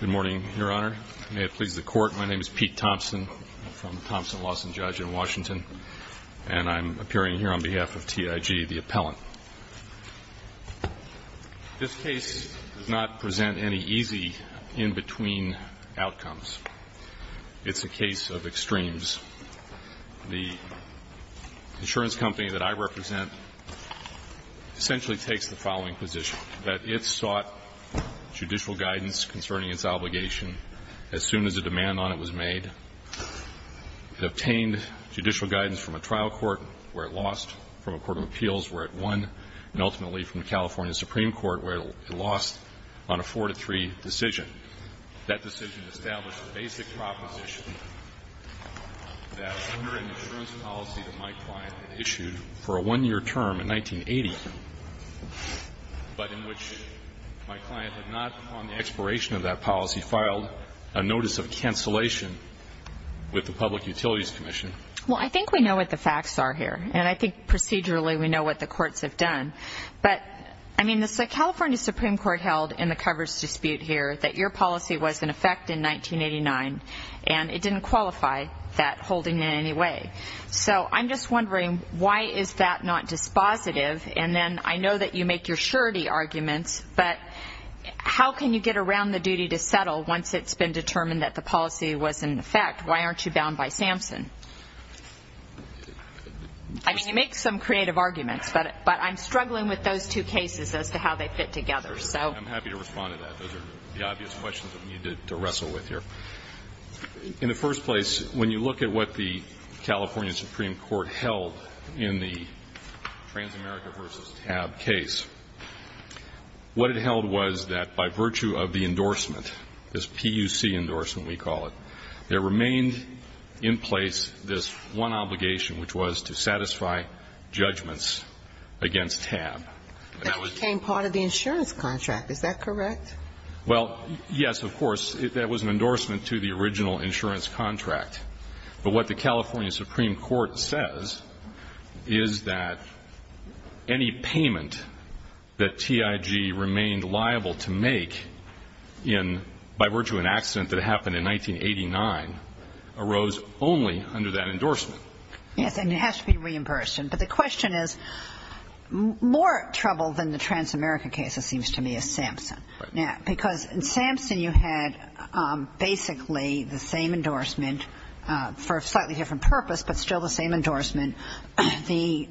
Good morning, Your Honor. May it please the Court, my name is Pete Thompson from the Thompson-Lawson Judge in Washington, and I'm appearing here on behalf of TIG, the appellant. This case does not present any easy in-between outcomes. It's a case of extremes. The insurance company that I represent essentially takes the following position, that it sought judicial guidance concerning its obligation as soon as a demand on it was made. It obtained judicial guidance from a trial court where it lost, from a court of appeals where it won, and ultimately from the California Supreme Court where it lost on a 4-3 decision. That decision established the basic proposition that under an insurance policy that my client had issued for a one-year term in 1980, but in which my client had not, upon the expiration of that policy, filed a notice of cancellation with the Public Utilities Commission. Well, I think we know what the facts are here, and I think procedurally we know what the courts have done. But, I mean, the California Supreme Court held in the coverage dispute here that your policy was in effect in 1989, and it didn't qualify that holding in any way. So I'm just wondering, why is that not dispositive? And then I know that you make your surety arguments, but how can you get around the duty to settle once it's been determined that the policy was in effect? Why aren't you bound by Samson? I mean, you make some creative arguments, but I'm struggling with those two cases as to how they fit together. I'm happy to respond to that. Those are the obvious questions that we need to wrestle with here. In the first place, when you look at what the California Supreme Court held in the Transamerica v. TAB case, what it held was that by virtue of the endorsement, this PUC endorsement we call it, there remained in place this one obligation, which was to satisfy judgments against TAB. That became part of the insurance contract. Is that correct? Well, yes, of course. That was an endorsement to the original insurance contract. But what the California Supreme Court says is that any payment that TIG remained liable to make by virtue of an accident that happened in 1989 arose only under that endorsement. Yes, and it has to be reimbursed. But the question is, more trouble than the Transamerica case, it seems to me, is Samson. Because in Samson you had basically the same endorsement for a slightly different purpose, but still the same endorsement. The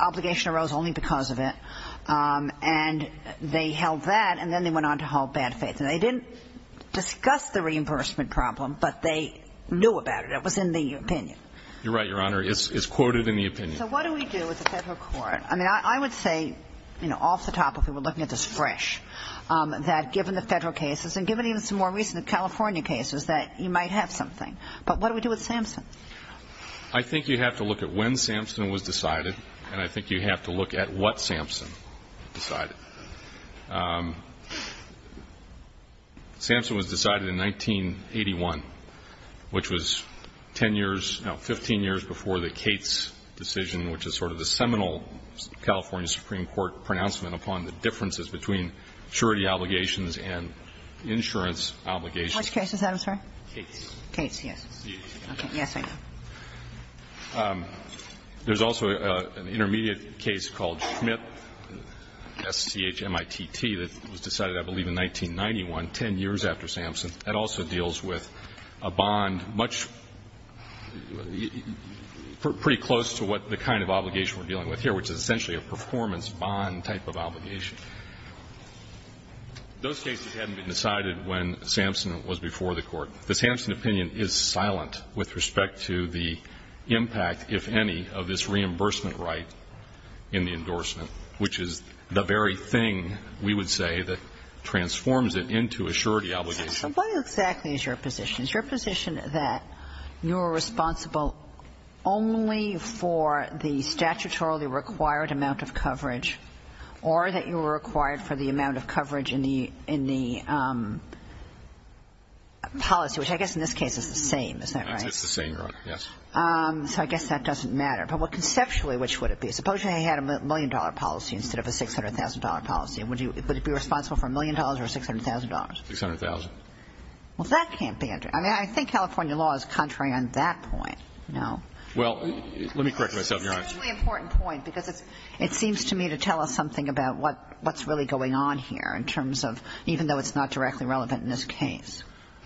obligation arose only because of it. And they held that, and then they went on to hold bad faith. And they didn't discuss the reimbursement problem, but they knew about it. It was in the opinion. You're right, Your Honor. It's quoted in the opinion. So what do we do with the Federal Court? I mean, I would say, you know, off the top, if we were looking at this fresh, that given the Federal cases and given even some more recent California cases, that you might have something. But what do we do with Samson? I think you have to look at when Samson was decided, and I think you have to look at what Samson decided. Samson was decided in 1981, which was 10 years, no, 15 years before the Cates decision, which is sort of the seminal California Supreme Court pronouncement upon the differences between surety obligations and insurance obligations. Which case is that, I'm sorry? Cates. Cates, yes. Yes, I know. There's also an intermediate case called Schmidt, S-C-H-M-I-T-T, that was decided, I believe, in 1991, 10 years after Samson. That also deals with a bond much, pretty close to what the kind of obligation we're dealing with here, which is essentially a performance bond type of obligation. Those cases hadn't been decided when Samson was before the Court. This Samson opinion is silent with respect to the impact, if any, of this reimbursement right in the endorsement, which is the very thing, we would say, that transforms it into a surety obligation. So what exactly is your position? Is your position that you're responsible only for the statutorily required amount of coverage, or that you were required for the amount of coverage in the policy, which I guess in this case is the same. Is that right? It's the same, Your Honor, yes. So I guess that doesn't matter. But what conceptually, which would it be? Suppose you had a million-dollar policy instead of a $600,000 policy. Would you be responsible for a million dollars or $600,000? $600,000. Well, that can't be. I mean, I think California law is contrary on that point, no? Well, let me correct myself, Your Honor. That's a particularly important point, because it seems to me to tell us something about what's really going on here in terms of, even though it's not directly relevant in this case.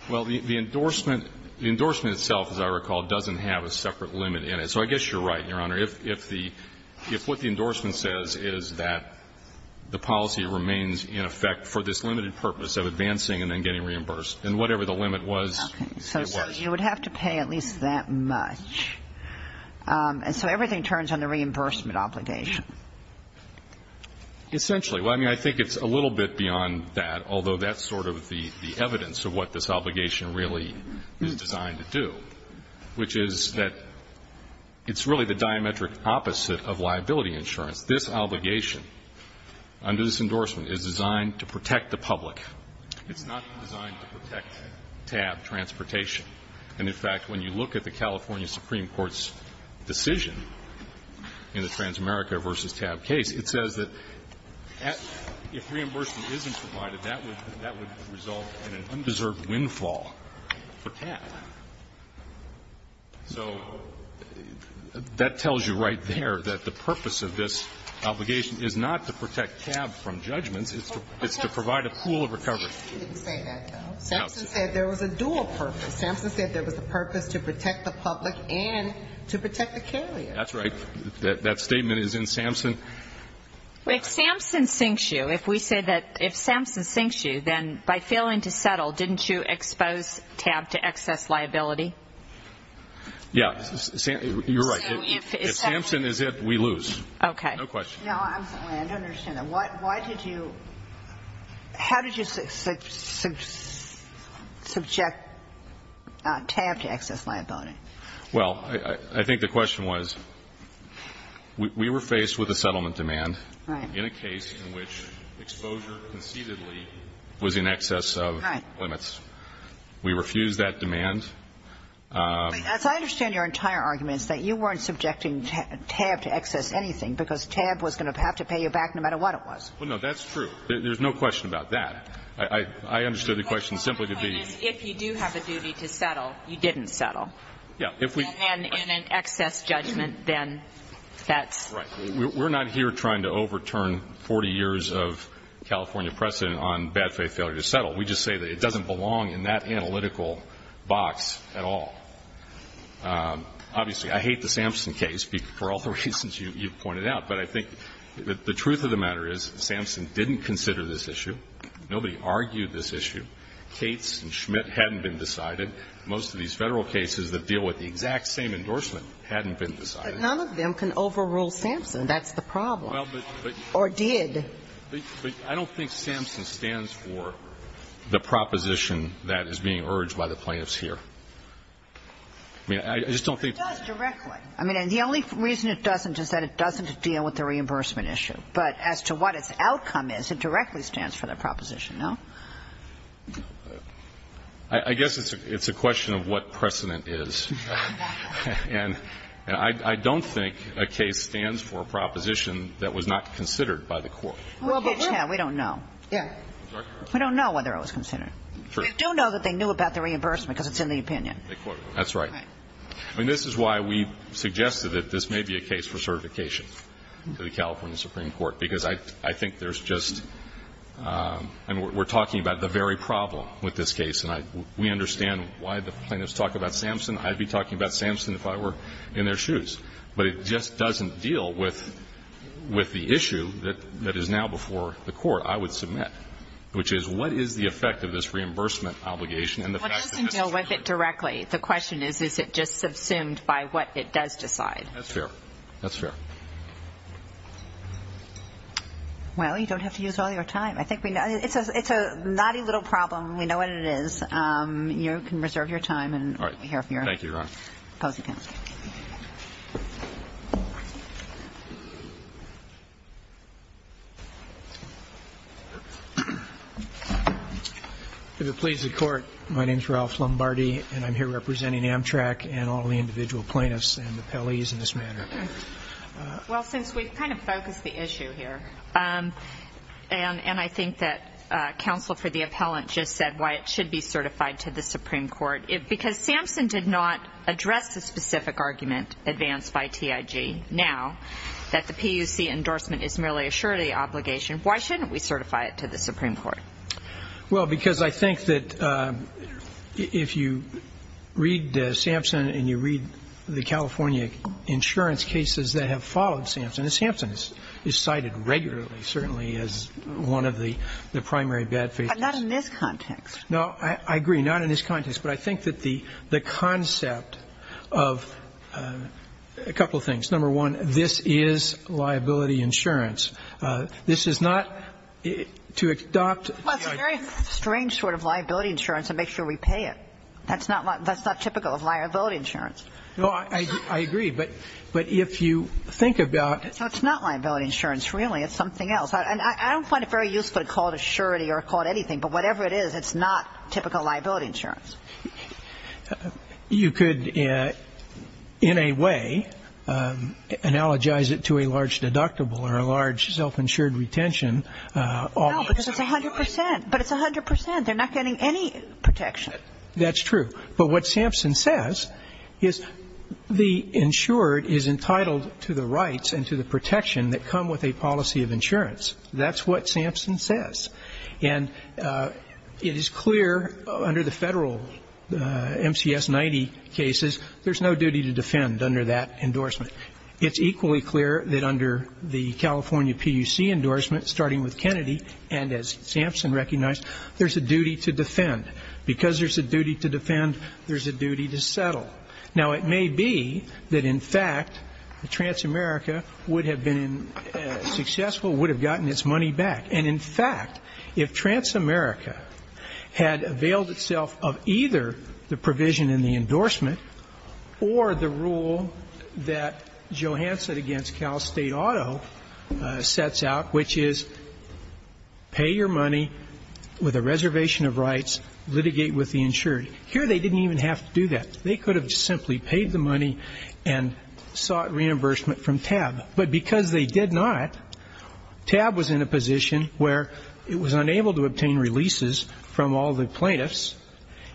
Well, the endorsement itself, as I recall, doesn't have a separate limit in it. So I guess you're right, Your Honor. If what the endorsement says is that the policy remains in effect for this limited purpose of advancing and then getting reimbursed, then whatever the limit was, it was. So you would have to pay at least that much. And so everything turns on the reimbursement obligation. Essentially. I mean, I think it's a little bit beyond that, although that's sort of the evidence of what this obligation really is designed to do, which is that it's really the diametric opposite of liability insurance. This obligation under this endorsement is designed to protect the public. It's not designed to protect TAB transportation. And, in fact, when you look at the California Supreme Court's decision in the Transamerica v. TAB case, it says that if reimbursement isn't provided, that would result in an undeserved windfall for TAB. So that tells you right there that the purpose of this obligation is not to protect TAB from judgments. It's to provide a pool of recovery. You didn't say that, though. SAMHSA said there was a dual purpose. SAMHSA said there was a purpose to protect the public and to protect the carrier. That's right. That statement is in SAMHSA. If SAMHSA sinks you, if we say that if SAMHSA sinks you, then by failing to settle, didn't you expose TAB to excess liability? Yeah. You're right. If SAMHSA is it, we lose. Okay. No question. No, I'm sorry. I don't understand that. Why did you – how did you subject TAB to excess liability? Well, I think the question was, we were faced with a settlement demand in a case in which exposure concededly was in excess of limits. Right. We refused that demand. As I understand your entire argument, it's that you weren't subjecting TAB to excess You didn't. You didn't lose anything because TAB was going to have to pay you back no matter what it was. Well, no, that's true. There's no question about that. I understood the question simply to be – Well, my point is, if you do have a duty to settle, you didn't settle. Yeah. If we – And in an excess judgment, then that's – Right. We're not here trying to overturn 40 years of California precedent on bad faith failure to settle. We just say that it doesn't belong in that analytical box at all. Obviously, I hate the Sampson case for all the reasons you've pointed out, but I think the truth of the matter is Sampson didn't consider this issue. Nobody argued this issue. Cates and Schmidt hadn't been decided. Most of these Federal cases that deal with the exact same endorsement hadn't been decided. But none of them can overrule Sampson. That's the problem. Or did. But I don't think Sampson stands for the proposition that is being urged by the plaintiffs here. I mean, I just don't think – It does directly. I mean, and the only reason it doesn't is that it doesn't deal with the reimbursement issue. But as to what its outcome is, it directly stands for the proposition, no? I guess it's a question of what precedent is. And I don't think a case stands for a proposition that was not considered by the court. Well, but we don't know. Yeah. We don't know whether it was considered. We do know that they knew about the reimbursement because it's in the opinion. That's right. I mean, this is why we suggested that this may be a case for certification to the California Supreme Court, because I think there's just – and we're talking about the very problem with this case, and we understand why the plaintiffs talk about Sampson. I'd be talking about Sampson if I were in their shoes. But it just doesn't deal with the issue that is now before the court, I would submit, which is what is the effect of this reimbursement obligation and the fact that this is – Well, it doesn't deal with it directly. The question is, is it just subsumed by what it does decide? That's fair. That's fair. Well, you don't have to use all your time. I think we – it's a naughty little problem. We know what it is. You can reserve your time. All right. Thank you, Your Honor. If it pleases the Court, my name is Ralph Lombardi, and I'm here representing Amtrak and all the individual plaintiffs and the appellees in this matter. Well, since we've kind of focused the issue here, and I think that counsel for the appellant just said why it should be certified to the Supreme Court, because Sampson did not address the specific argument advanced by TIG. Now that the PUC endorsement is merely a surety obligation, why shouldn't we certify it to the Supreme Court? Well, because I think that if you read Sampson and you read the California insurance cases that have followed Sampson, Sampson is cited regularly, certainly as one of the primary bad faith cases. But not in this context. No, I agree. Not in this context. But I think that the concept of a couple of things. Number one, this is liability insurance. This is not to adopt TIG. Well, it's a very strange sort of liability insurance to make sure we pay it. That's not typical of liability insurance. No, I agree. But if you think about – So it's not liability insurance, really. It's something else. And I don't find it very useful to call it a surety or call it anything. But whatever it is, it's not typical liability insurance. You could, in a way, analogize it to a large deductible or a large self-insured retention. No, because it's 100%. But it's 100%. They're not getting any protection. That's true. But what Sampson says is the insured is entitled to the rights and to the protection that come with a policy of insurance. That's what Sampson says. And it is clear under the federal MCS 90 cases, there's no duty to defend under that endorsement. It's equally clear that under the California PUC endorsement, starting with Kennedy, and as Sampson recognized, there's a duty to defend. Because there's a duty to defend, there's a duty to settle. Now, it may be that, in fact, Transamerica would have been successful, would have gotten its money back. And, in fact, if Transamerica had availed itself of either the provision in the endorsement or the rule that Johansson against Cal State Auto sets out, which is pay your money with a reservation of rights, litigate with the insured, here they didn't even have to do that. They could have simply paid the money and sought reimbursement from TAB. But because they did not, TAB was in a position where it was unable to obtain releases from all the plaintiffs,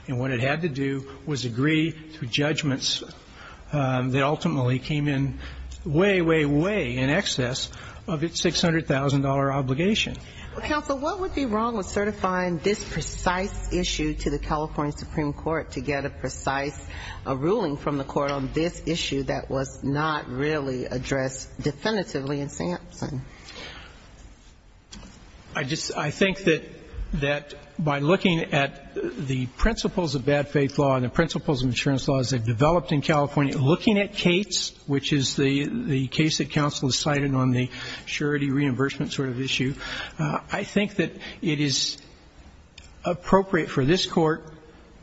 and what it had to do was agree to judgments that ultimately came in way, way, way in excess of its $600,000 obligation. Well, counsel, what would be wrong with certifying this precise issue to the California Supreme Court to get a precise ruling from the court on this issue that was not really addressed definitively in Sampson? I think that by looking at the principles of bad faith law and the principles of insurance laws that developed in California, looking at Cates, which is the case that counsel cited on the surety reimbursement sort of issue, I think that it is appropriate for this Court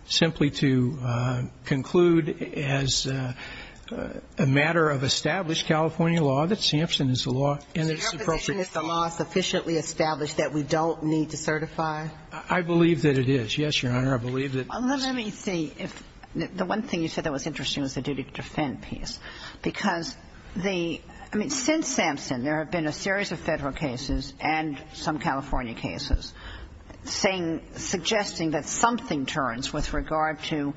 simply to conclude as a matter of established California law that Sampson is the law and that it's appropriate. So your position is the law is sufficiently established that we don't need to certify? I believe that it is, yes, Your Honor. I believe that it is. Well, let me see if the one thing you said that was interesting was the duty to defend piece, because the ‑‑ I mean, since Sampson, there have been a series of Federal cases and some California cases suggesting that something turns with regard to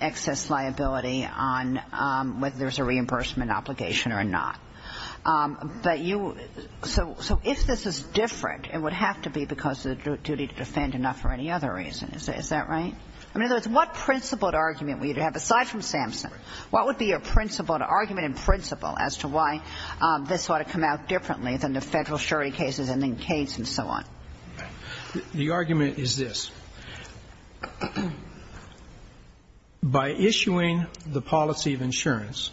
excess liability on whether there's a reimbursement obligation or not. But you ‑‑ so if this is different, it would have to be because of the duty to defend and not for any other reason. Is that right? I mean, in other words, what principled argument would you have, aside from Sampson, what would be your principled argument and principle as to why this ought to come out differently than the Federal surety cases and then Cates and so on? The argument is this. By issuing the policy of insurance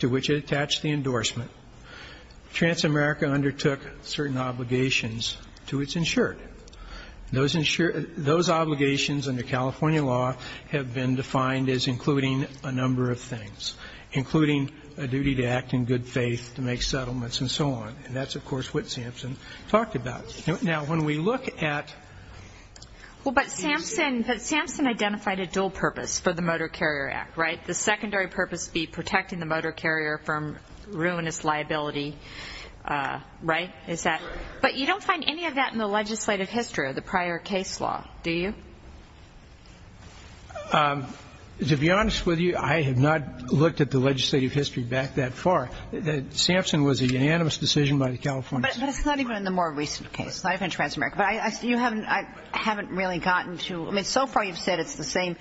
to which it attached the endorsement, Transamerica undertook certain obligations to its insured. Those obligations under California law have been defined as including a number of things, including a duty to act in good faith, to make settlements and so on. And that's, of course, what Sampson talked about. Now, when we look at ‑‑ Well, but Sampson identified a dual purpose for the Motor Carrier Act, right? The secondary purpose would be protecting the motor carrier from ruinous liability, right? But you don't find any of that in the legislative history of the prior case law, do you? To be honest with you, I have not looked at the legislative history back that far. Sampson was a unanimous decision by the California State ‑‑ But it's not even in the more recent case, not even in Transamerica. But I haven't really gotten to ‑‑ I mean, so far you've said it's the same.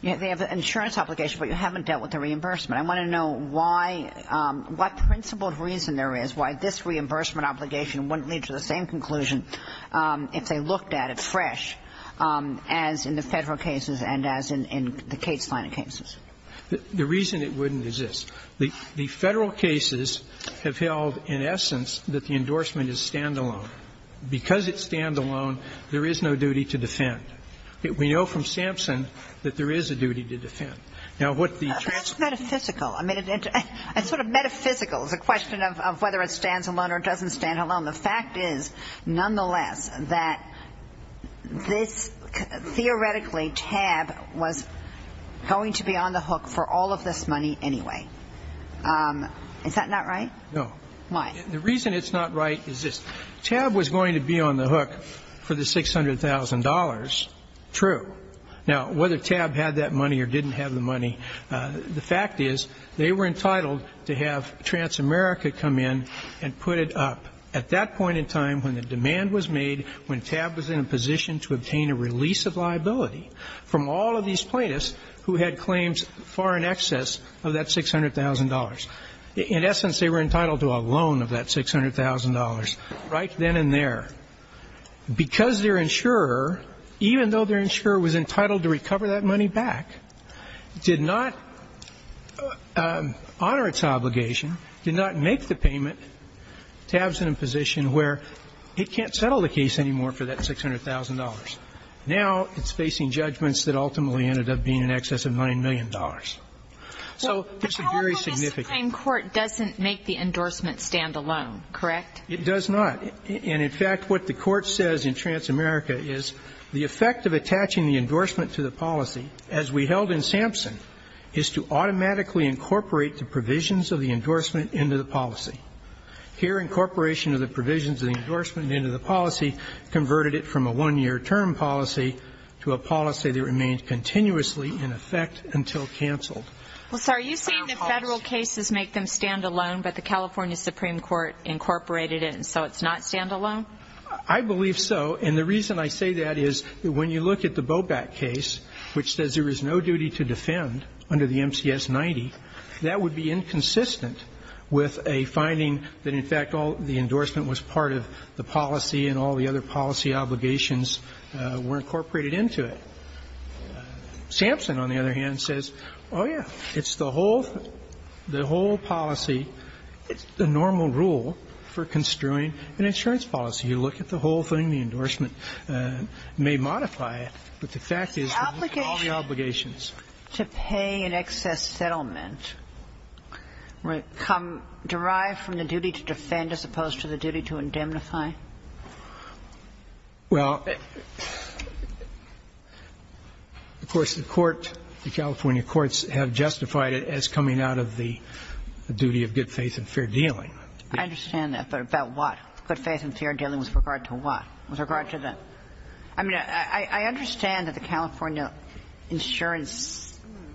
You have the insurance obligation, but you haven't dealt with the reimbursement. I want to know why ‑‑ what principle of reason there is why this reimbursement obligation wouldn't lead to the same conclusion if they looked at it fresh as in the Federal cases and as in the Case Line cases. The reason it wouldn't is this. The Federal cases have held, in essence, that the endorsement is standalone. Because it's standalone, there is no duty to defend. We know from Sampson that there is a duty to defend. Now, what the ‑‑ But that's metaphysical. I mean, it's sort of metaphysical. It's a question of whether it stands alone or doesn't stand alone. The fact is, nonetheless, that this theoretically TAB was going to be on the hook for all of this money anyway. Is that not right? No. Why? The reason it's not right is this. the $600,000. True. Now, whether TAB had that money or didn't have the money, the fact is they were entitled to have Transamerica come in and put it up at that point in time when the demand was made, when TAB was in a position to obtain a release of liability from all of these plaintiffs who had claims far in excess of that $600,000. In essence, they were entitled to a loan of that $600,000. Right then and there. Because their insurer, even though their insurer was entitled to recover that money back, did not honor its obligation, did not make the payment, TAB is in a position where it can't settle the case anymore for that $600,000. Now it's facing judgments that ultimately ended up being in excess of $9 million. So it's very significant. The California Supreme Court doesn't make the endorsement stand alone, correct? It does not. And in fact, what the Court says in Transamerica is the effect of attaching the endorsement to the policy, as we held in Sampson, is to automatically incorporate the provisions of the endorsement into the policy. Here, incorporation of the provisions of the endorsement into the policy converted it from a one-year term policy to a policy that remains continuously in effect until canceled. Well, sir, are you saying the Federal cases make them stand alone, but the California Supreme Court incorporated it, so it's not stand alone? I believe so. And the reason I say that is when you look at the Boback case, which says there is no duty to defend under the MCS 90, that would be inconsistent with a finding that, in fact, all the endorsement was part of the policy and all the other policy obligations were incorporated into it. Sampson, on the other hand, says, oh, yeah, it's the whole, the whole policy, the normal rule for construing an insurance policy. You look at the whole thing, the endorsement may modify it, but the fact is that all the obligations to pay an excess settlement derive from the duty to defend as opposed to the duty to indemnify? Well, of course, the Court, the California courts have justified it as coming out of the duty of good faith and fair dealing. I understand that. But about what? Good faith and fair dealing with regard to what? With regard to the? I mean, I understand that the California insurance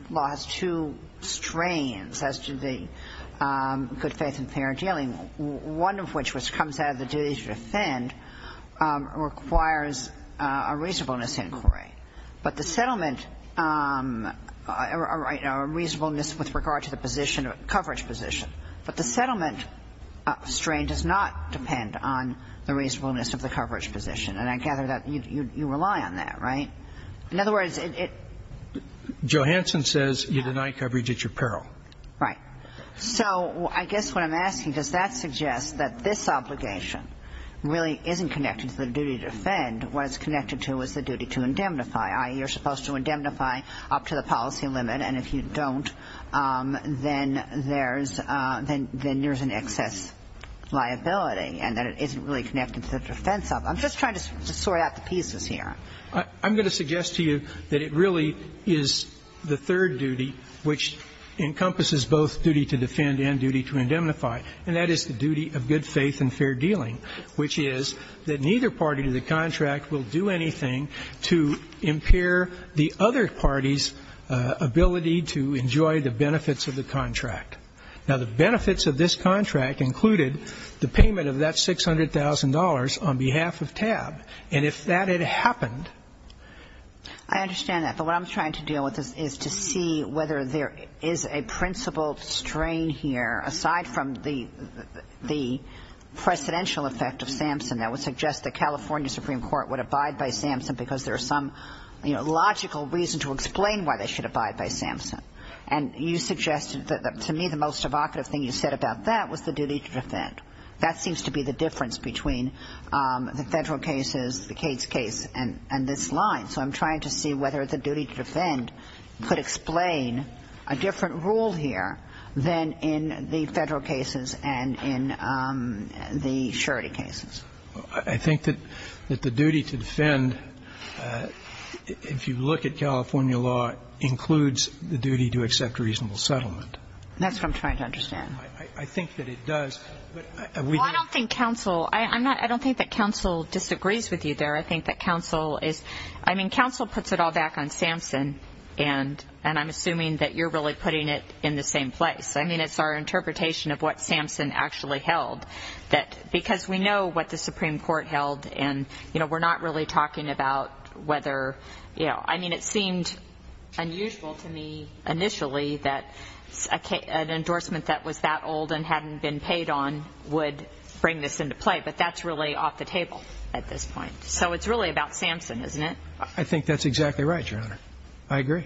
law has two strains as to the good faith and fair dealing, one of which which comes out of the duty to defend requires a reasonableness inquiry. But the settlement or reasonableness with regard to the position of coverage position, but the settlement strain does not depend on the reasonableness of the coverage position. And I gather that you rely on that, right? In other words, it? Johanson says you deny coverage at your peril. Right. So I guess what I'm asking, does that suggest that this obligation really isn't connected to the duty to defend? What it's connected to is the duty to indemnify. You're supposed to indemnify up to the policy limit, and if you don't, then there's an excess liability and that it isn't really connected to the defense of it. I'm just trying to sort out the pieces here. I'm going to suggest to you that it really is the third duty which encompasses both duty to defend and duty to indemnify, and that is the duty of good faith and fair dealing, which is that neither party to the contract will do anything to impair the other party's ability to enjoy the benefits of the contract. Now, the benefits of this contract included the payment of that $600,000 on behalf of TAB. And if that had happened? I understand that. But what I'm trying to deal with is to see whether there is a principal strain here, aside from the precedential effect of Sampson, that would suggest the California Supreme Court would abide by Sampson because there is some logical reason to explain why they should abide by Sampson. And you suggested to me the most evocative thing you said about that was the duty to defend. That seems to be the difference between the federal cases, the Cates case, and this line. And so I'm trying to see whether the duty to defend could explain a different rule here than in the federal cases and in the surety cases. I think that the duty to defend, if you look at California law, includes the duty to accept reasonable settlement. That's what I'm trying to understand. I think that it does. Well, I don't think counsel – I don't think that counsel disagrees with you there. I think that counsel is – I mean, counsel puts it all back on Sampson, and I'm assuming that you're really putting it in the same place. I mean, it's our interpretation of what Sampson actually held. Because we know what the Supreme Court held, and we're not really talking about whether – I mean, it seemed unusual to me initially that an endorsement that was that old and hadn't been paid on would bring this into play. But that's really off the table at this point. So it's really about Sampson, isn't it? I think that's exactly right, Your Honor. I agree.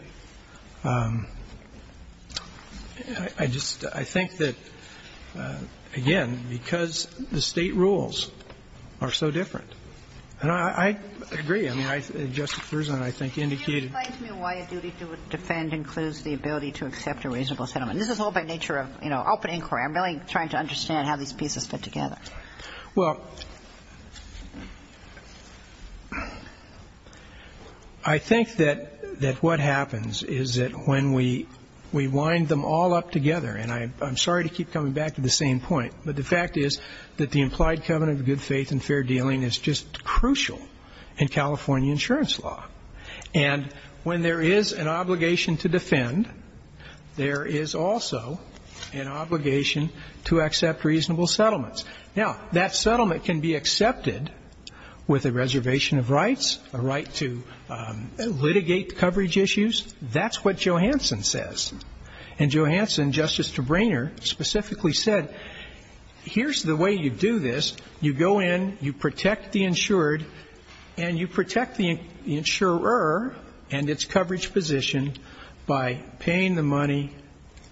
I just – I think that, again, because the State rules are so different. And I agree. I mean, Justice Gershwin, I think, indicated – Can you explain to me why a duty to defend includes the ability to accept a reasonable settlement? This is all by nature of, you know, open inquiry. I'm really trying to understand how these pieces fit together. Well, I think that what happens is that when we wind them all up together – and I'm sorry to keep coming back to the same point, but the fact is that the implied covenant of good faith and fair dealing is just crucial in California insurance law. And when there is an obligation to defend, there is also an obligation to accept reasonable settlements. Now, that settlement can be accepted with a reservation of rights, a right to litigate coverage issues. That's what Johansson says. And Johansson, Justice Trebainer, specifically said, here's the way you do this. You go in, you protect the insured, and you protect the insurer and its coverage position by paying the money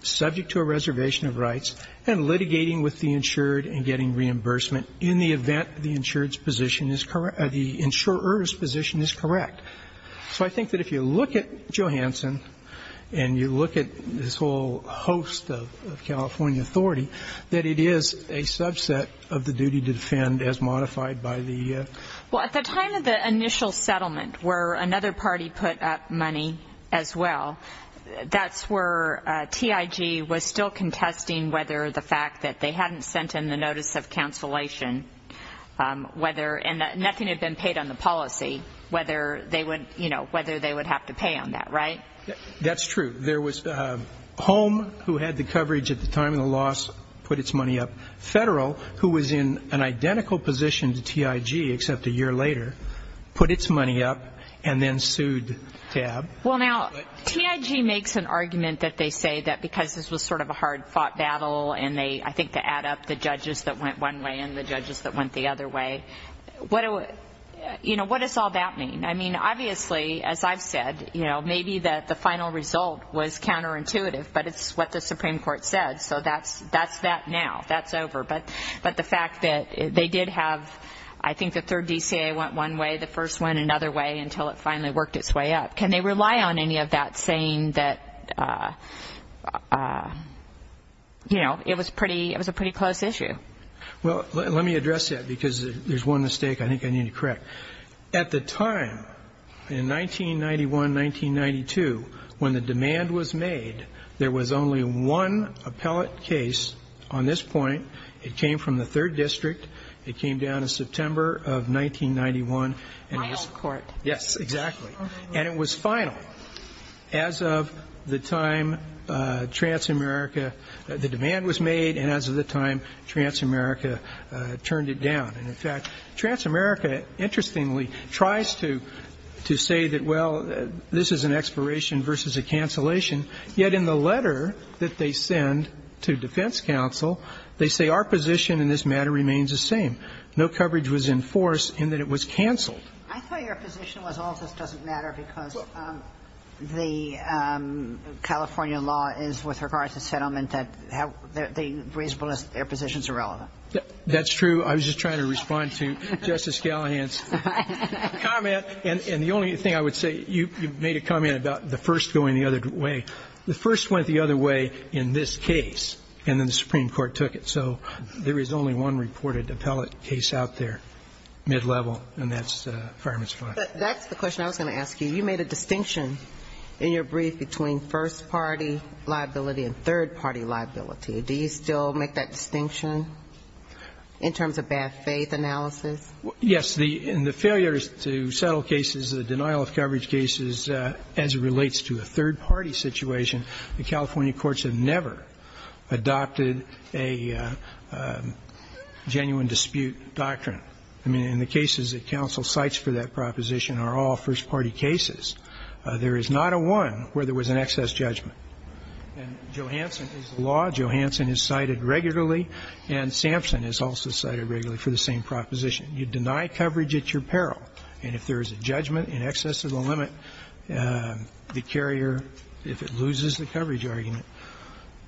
subject to a reservation of rights and litigating with the insured and getting reimbursement in the event the insured's position is – the insurer's position is correct. So I think that if you look at Johansson and you look at this whole host of California authority, that it is a subset of the duty to defend as modified by the – Well, at the time of the initial settlement, where another party put up money as well, that's where TIG was still contesting whether the fact that they hadn't sent in the notice of cancellation, whether – and that nothing had been paid on the policy, whether they would – you know, whether they would have to pay on that, right? That's true. There was Home, who had the coverage at the time of the loss, put its money up. Federal, who was in an identical position to TIG except a year later, put its money up and then sued TAB. Well, now, TIG makes an argument that they say that because this was sort of a hard-fought battle and they – I think to add up the judges that went one way and the judges that went the other way, what – you know, what does all that mean? I mean, obviously, as I've said, you know, maybe that the final result was counterintuitive, but it's what the Supreme Court said. So that's that now. That's over. But the fact that they did have – I think the third DCA went one way, the first went another way until it finally worked its way up. Can they rely on any of that saying that, you know, it was a pretty close issue? Well, let me address that because there's one mistake I think I need to correct. At the time, in 1991-1992, when the demand was made, there was only one appellate case on this point. It came from the third district. It came down in September of 1991. My old court. Yes, exactly. And it was final. As of the time Transamerica – the demand was made and as of the time Transamerica turned it down. And in fact, Transamerica, interestingly, tries to say that, well, this is an expiration versus a cancellation, yet in the letter that they send to defense counsel, they say our position in this matter remains the same. No coverage was enforced in that it was canceled. I thought your position was all of this doesn't matter because the California law is, with regards to settlement, that the reasonable positions are relevant. That's true. I was just trying to respond to Justice Gallagher's comment. And the only thing I would say, you made a comment about the first going the other way. The first went the other way in this case, and then the Supreme Court took it. So there is only one reported appellate case out there, mid-level, and that's Fireman's Clause. But that's the question I was going to ask you. You made a distinction in your brief between first-party liability and third-party liability. Do you still make that distinction in terms of bad faith analysis? Yes. In the failures to settle cases, the denial of coverage cases, as it relates to a third-party situation, the California courts have never adopted a genuine dispute doctrine. I mean, in the cases that counsel cites for that proposition are all first-party cases. There is not a one where there was an excess judgment. And Johansson is the law. Johansson is cited regularly. And Sampson is also cited regularly for the same proposition. You deny coverage at your peril. And if there is a judgment in excess of the limit, the carrier, if it loses the coverage argument,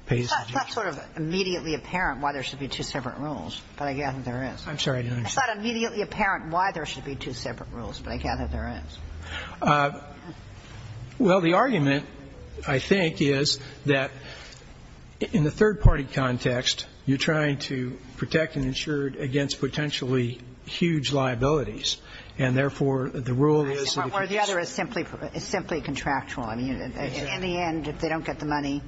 pays the judgment. It's not sort of immediately apparent why there should be two separate rules, but I gather there is. I'm sorry, I didn't understand. It's not immediately apparent why there should be two separate rules, but I gather there is. Well, the argument, I think, is that in the third-party context, you're trying to protect an insured against potentially huge liabilities, and therefore, the rule is that if it's... Or the other is simply contractual. I mean, in the end, if they don't get the money,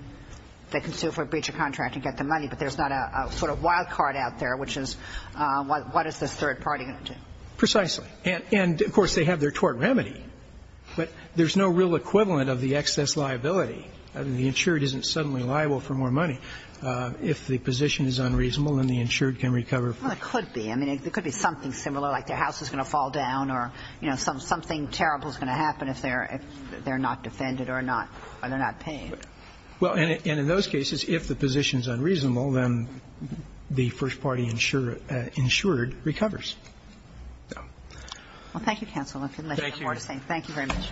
they can sue for a breach of contract and get the money, but there's not a sort of wild card out there, which is, what is this third party going to do? Precisely. And, of course, they have their tort remedy, but there's no real equivalent of the excess liability. I mean, the insured isn't suddenly liable for more money. If the position is unreasonable, then the insured can recover. Well, it could be. I mean, it could be something similar, like their house is going to fall down or, you know, something terrible is going to happen if they're not defended or they're not paid. Well, and in those cases, if the position is unreasonable, then the first-party insured recovers. Well, thank you, counsel. Thank you. Thank you very much.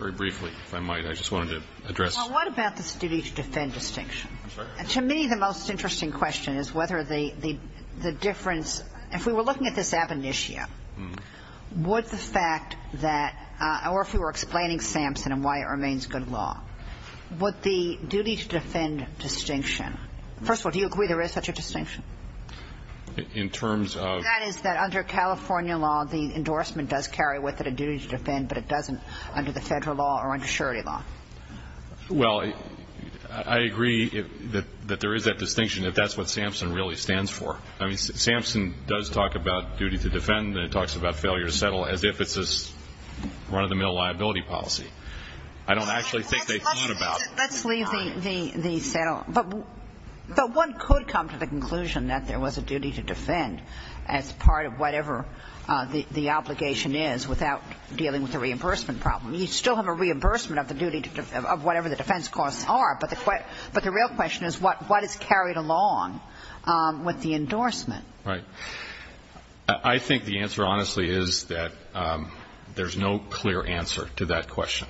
Very briefly, if I might, I just wanted to address... Well, what about this duty to defend distinction? I'm sorry? To me, the most interesting question is whether the difference, if we were looking at this ab initio, would the fact that or if you were explaining Sampson and why it remains good law, would the duty to defend distinction... First of all, do you agree there is such a distinction? In terms of... That is, that under California law, the endorsement does carry with it a duty to defend, but it doesn't under the federal law or under surety law. Well, I agree that there is that distinction, that that's what Sampson really stands for. I mean, Sampson does talk about duty to defend, and it talks about failure to I don't actually think they thought about it. Let's leave the... But one could come to the conclusion that there was a duty to defend as part of whatever the obligation is without dealing with the reimbursement problem. You still have a reimbursement of the duty of whatever the defense costs are, but the real question is what is carried along with the endorsement? Right. I think the answer, honestly, is that there's no clear answer to that question.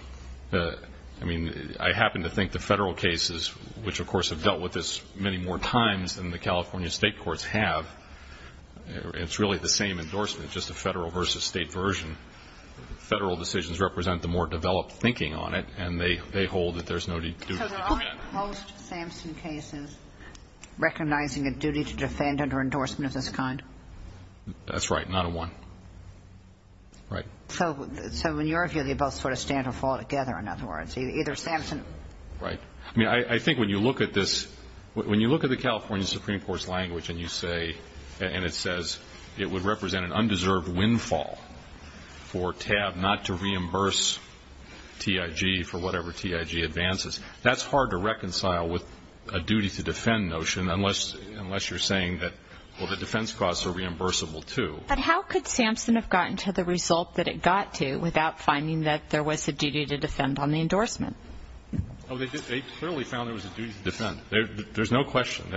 I mean, I happen to think the federal cases, which, of course, have dealt with this many more times than the California state courts have, it's really the same endorsement, just a federal versus state version. Federal decisions represent the more developed thinking on it, and they hold that there's no duty to defend. So there aren't most Sampson cases recognizing a duty to defend under endorsement of this kind? That's right. Not a one. Right. So in your view, they both sort of stand or fall together, in other words. Either Sampson... Right. I mean, I think when you look at this, when you look at the California Supreme Court's language and you say, and it says it would represent an undeserved windfall for TAB not to reimburse TIG for whatever TIG advances, that's hard to reconcile with a duty to defend notion unless you're saying that, well, the defense costs are reimbursable, too. But how could Sampson have gotten to the result that it got to without finding that there was a duty to defend on the endorsement? Oh, they clearly found there was a duty to defend. There's no question.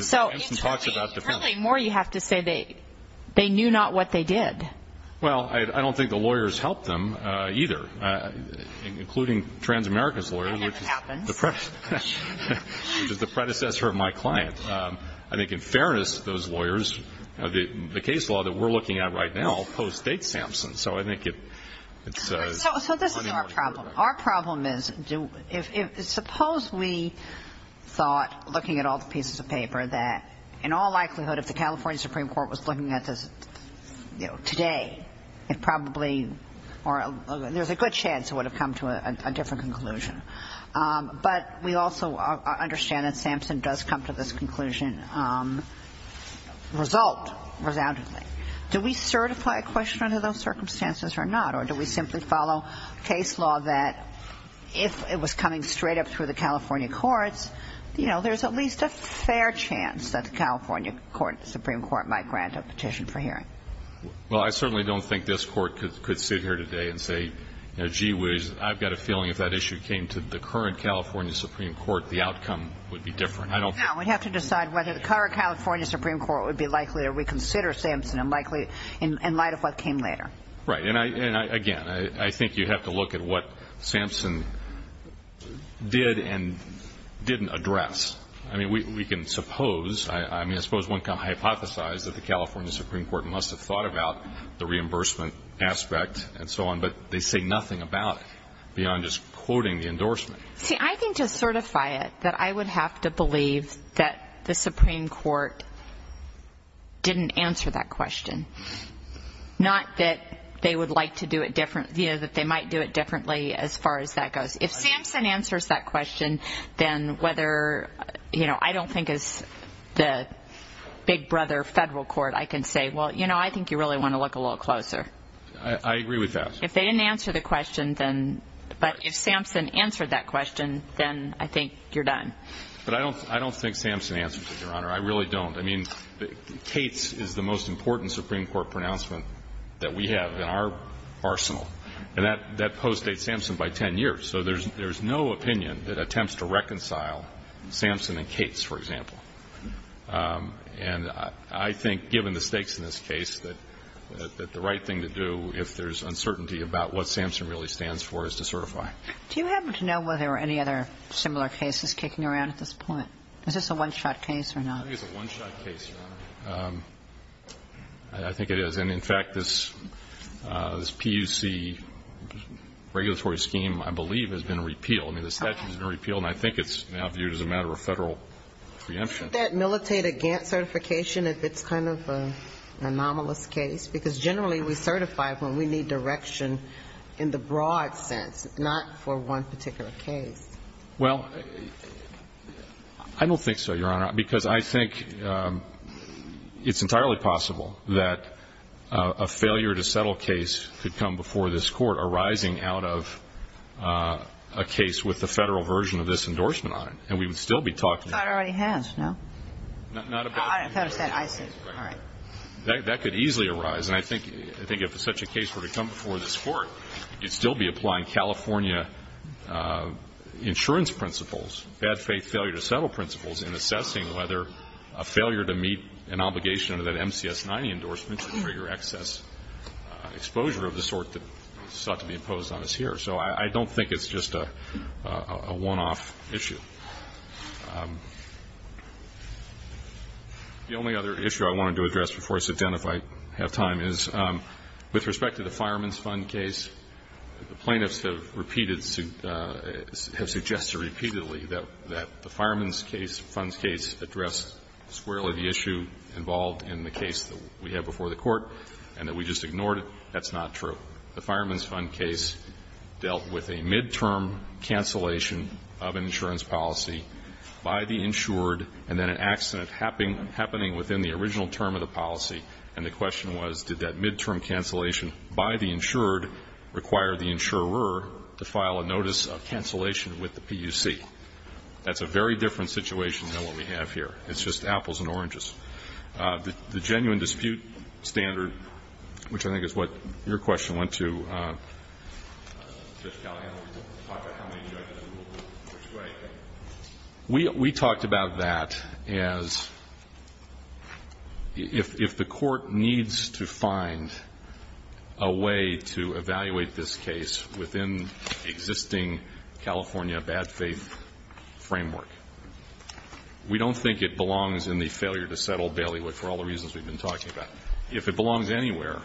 So it's really more, you have to say, they knew not what they did. Well, I don't think the lawyers helped them either, including Transamerica's lawyer, which is the predecessor of my client. I think in fairness, those lawyers, the case law that we're looking at right now postdates Sampson. So I think it's... So this is our problem. Our problem is, suppose we thought, looking at all the pieces of paper, that in all likelihood, if the California Supreme Court was looking at this today, it probably or there's a good chance it would have come to a different conclusion. But we also understand that Sampson does come to this conclusion result, resoundingly. Do we certify a question under those circumstances or not? Or do we simply follow case law that if it was coming straight up through the California courts, you know, there's at least a fair chance that the California Supreme Court might grant a petition for hearing? Well, I certainly don't think this Court could sit here today and say, you know, I've got a feeling if that issue came to the current California Supreme Court, the outcome would be different. Now, we'd have to decide whether the current California Supreme Court would be likely to reconsider Sampson in light of what came later. Right. And, again, I think you'd have to look at what Sampson did and didn't address. I mean, we can suppose, I mean, I suppose one can hypothesize that the California Supreme Court must have thought about the reimbursement aspect and so on, but they say nothing about it beyond just quoting the endorsement. See, I think to certify it that I would have to believe that the Supreme Court didn't answer that question. Not that they would like to do it different, you know, that they might do it differently as far as that goes. If Sampson answers that question, then whether, you know, I don't think as the big brother federal court I can say, well, you know, I think you really want to look a little closer. I agree with that. If they didn't answer the question, then, but if Sampson answered that question, then I think you're done. But I don't think Sampson answered it, Your Honor. I really don't. I mean, Cates is the most important Supreme Court pronouncement that we have in our arsenal, and that postdates Sampson by 10 years. So there's no opinion that attempts to reconcile Sampson and Cates, for example. And I think given the stakes in this case that the right thing to do if there's uncertainty about what Sampson really stands for is to certify. Do you happen to know whether any other similar case is kicking around at this point? Is this a one-shot case or not? I think it's a one-shot case, Your Honor. I think it is. And in fact, this PUC regulatory scheme, I believe, has been repealed. I mean, the statute has been repealed, and I think it's now viewed as a matter of federal preemption. Shouldn't that militate against certification if it's kind of an anomalous case? Because generally we certify when we need direction in the broad sense, not for one particular case. Well, I don't think so, Your Honor, because I think it's entirely possible that a failure to settle case could come before this Court arising out of a case with the federal version of this endorsement on it. And we would still be talking about it. The Federal already has, no? Not about the Federal. The Federal said I said, all right. That could easily arise. And I think if such a case were to come before this Court, you'd still be applying California insurance principles, bad faith failure to settle principles in assessing whether a failure to meet an obligation under that MCS 90 endorsement should trigger excess exposure of the sort that sought to be imposed on us here. So I don't think it's just a one-off issue. The only other issue I wanted to address before I sit down, if I have time, is with respect to the Fireman's Fund case, the plaintiffs have repeated, have suggested repeatedly that the Fireman's case, Fund's case addressed squarely the issue involved in the case that we had before the Court and that we just ignored it. That's not true. The Fireman's Fund case dealt with a midterm cancellation of an insurance policy by the insured and then an accident happening within the original term of the policy. And the question was, did that midterm cancellation by the insured require the insurer to file a notice of cancellation with the PUC? That's a very different situation than what we have here. It's just apples and oranges. The genuine dispute standard, which I think is what your question went to. We talked about that as if the Court needs to find a way to evaluate this case within existing California bad faith framework. We don't think it belongs in the failure to settle Bailiwick for all the reasons we've been talking about. If it belongs anywhere,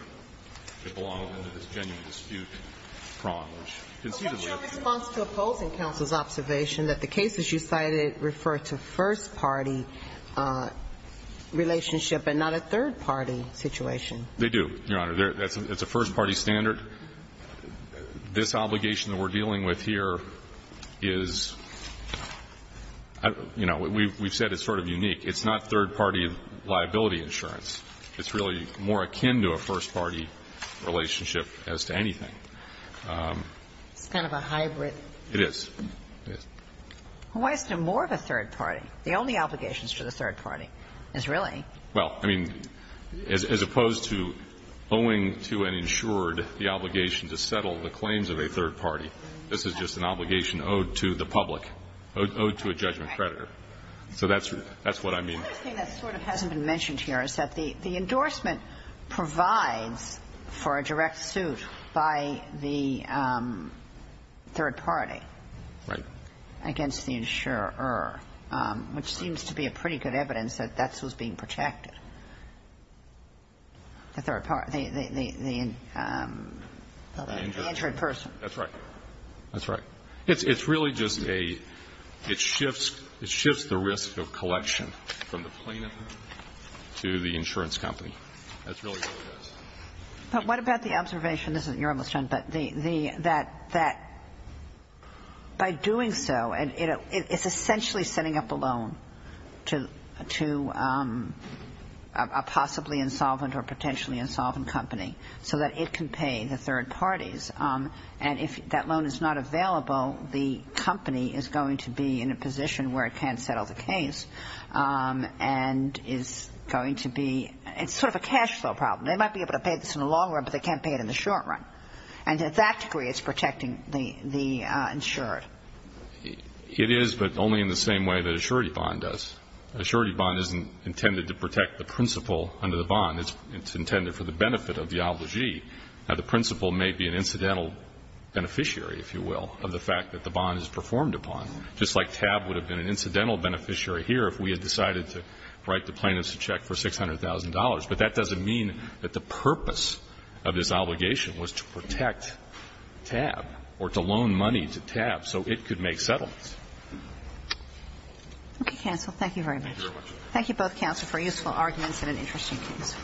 it belongs in this genuine dispute framework, which conceivably ---- But what's your response to opposing counsel's observation that the cases you cited refer to first-party relationship and not a third-party situation? They do, Your Honor. It's a first-party standard. This obligation that we're dealing with here is, you know, we've said it's sort of unique. It's not third-party liability insurance. It's really more akin to a first-party relationship as to anything. It's kind of a hybrid. It is. It is. Well, why isn't it more of a third-party? The only obligations to the third party is really ---- This is not an obligation to settle the claims of a third party. This is just an obligation owed to the public, owed to a judgment creditor. So that's what I mean. The other thing that sort of hasn't been mentioned here is that the endorsement provides for a direct suit by the third party against the insurer, which seems to be a pretty good evidence that that's what's being protected. The third party, the insured person. That's right. That's right. It's really just a ---- it shifts the risk of collection from the plaintiff to the insurance company. That's really what it is. But what about the observation ---- this is ---- you're almost done, but the ---- that by doing so, it's essentially setting up a loan to a possibly insolvent or potentially insolvent company so that it can pay the third parties. And if that loan is not available, the company is going to be in a position where it can't settle the case and is going to be ---- it's sort of a cash flow problem. They might be able to pay this in the long run, but they can't pay it in the short run. And to that degree, it's protecting the insured. It is, but only in the same way that a surety bond does. A surety bond isn't intended to protect the principal under the bond. It's intended for the benefit of the obligee. Now, the principal may be an incidental beneficiary, if you will, of the fact that the bond is performed upon, just like TAB would have been an incidental beneficiary here if we had decided to write the plaintiff's check for $600,000. But that doesn't mean that the purpose of this obligation was to protect TAB or to loan money to TAB so it could make settlements. Okay, counsel. Thank you very much. Thank you both, counsel, for useful arguments and an interesting case.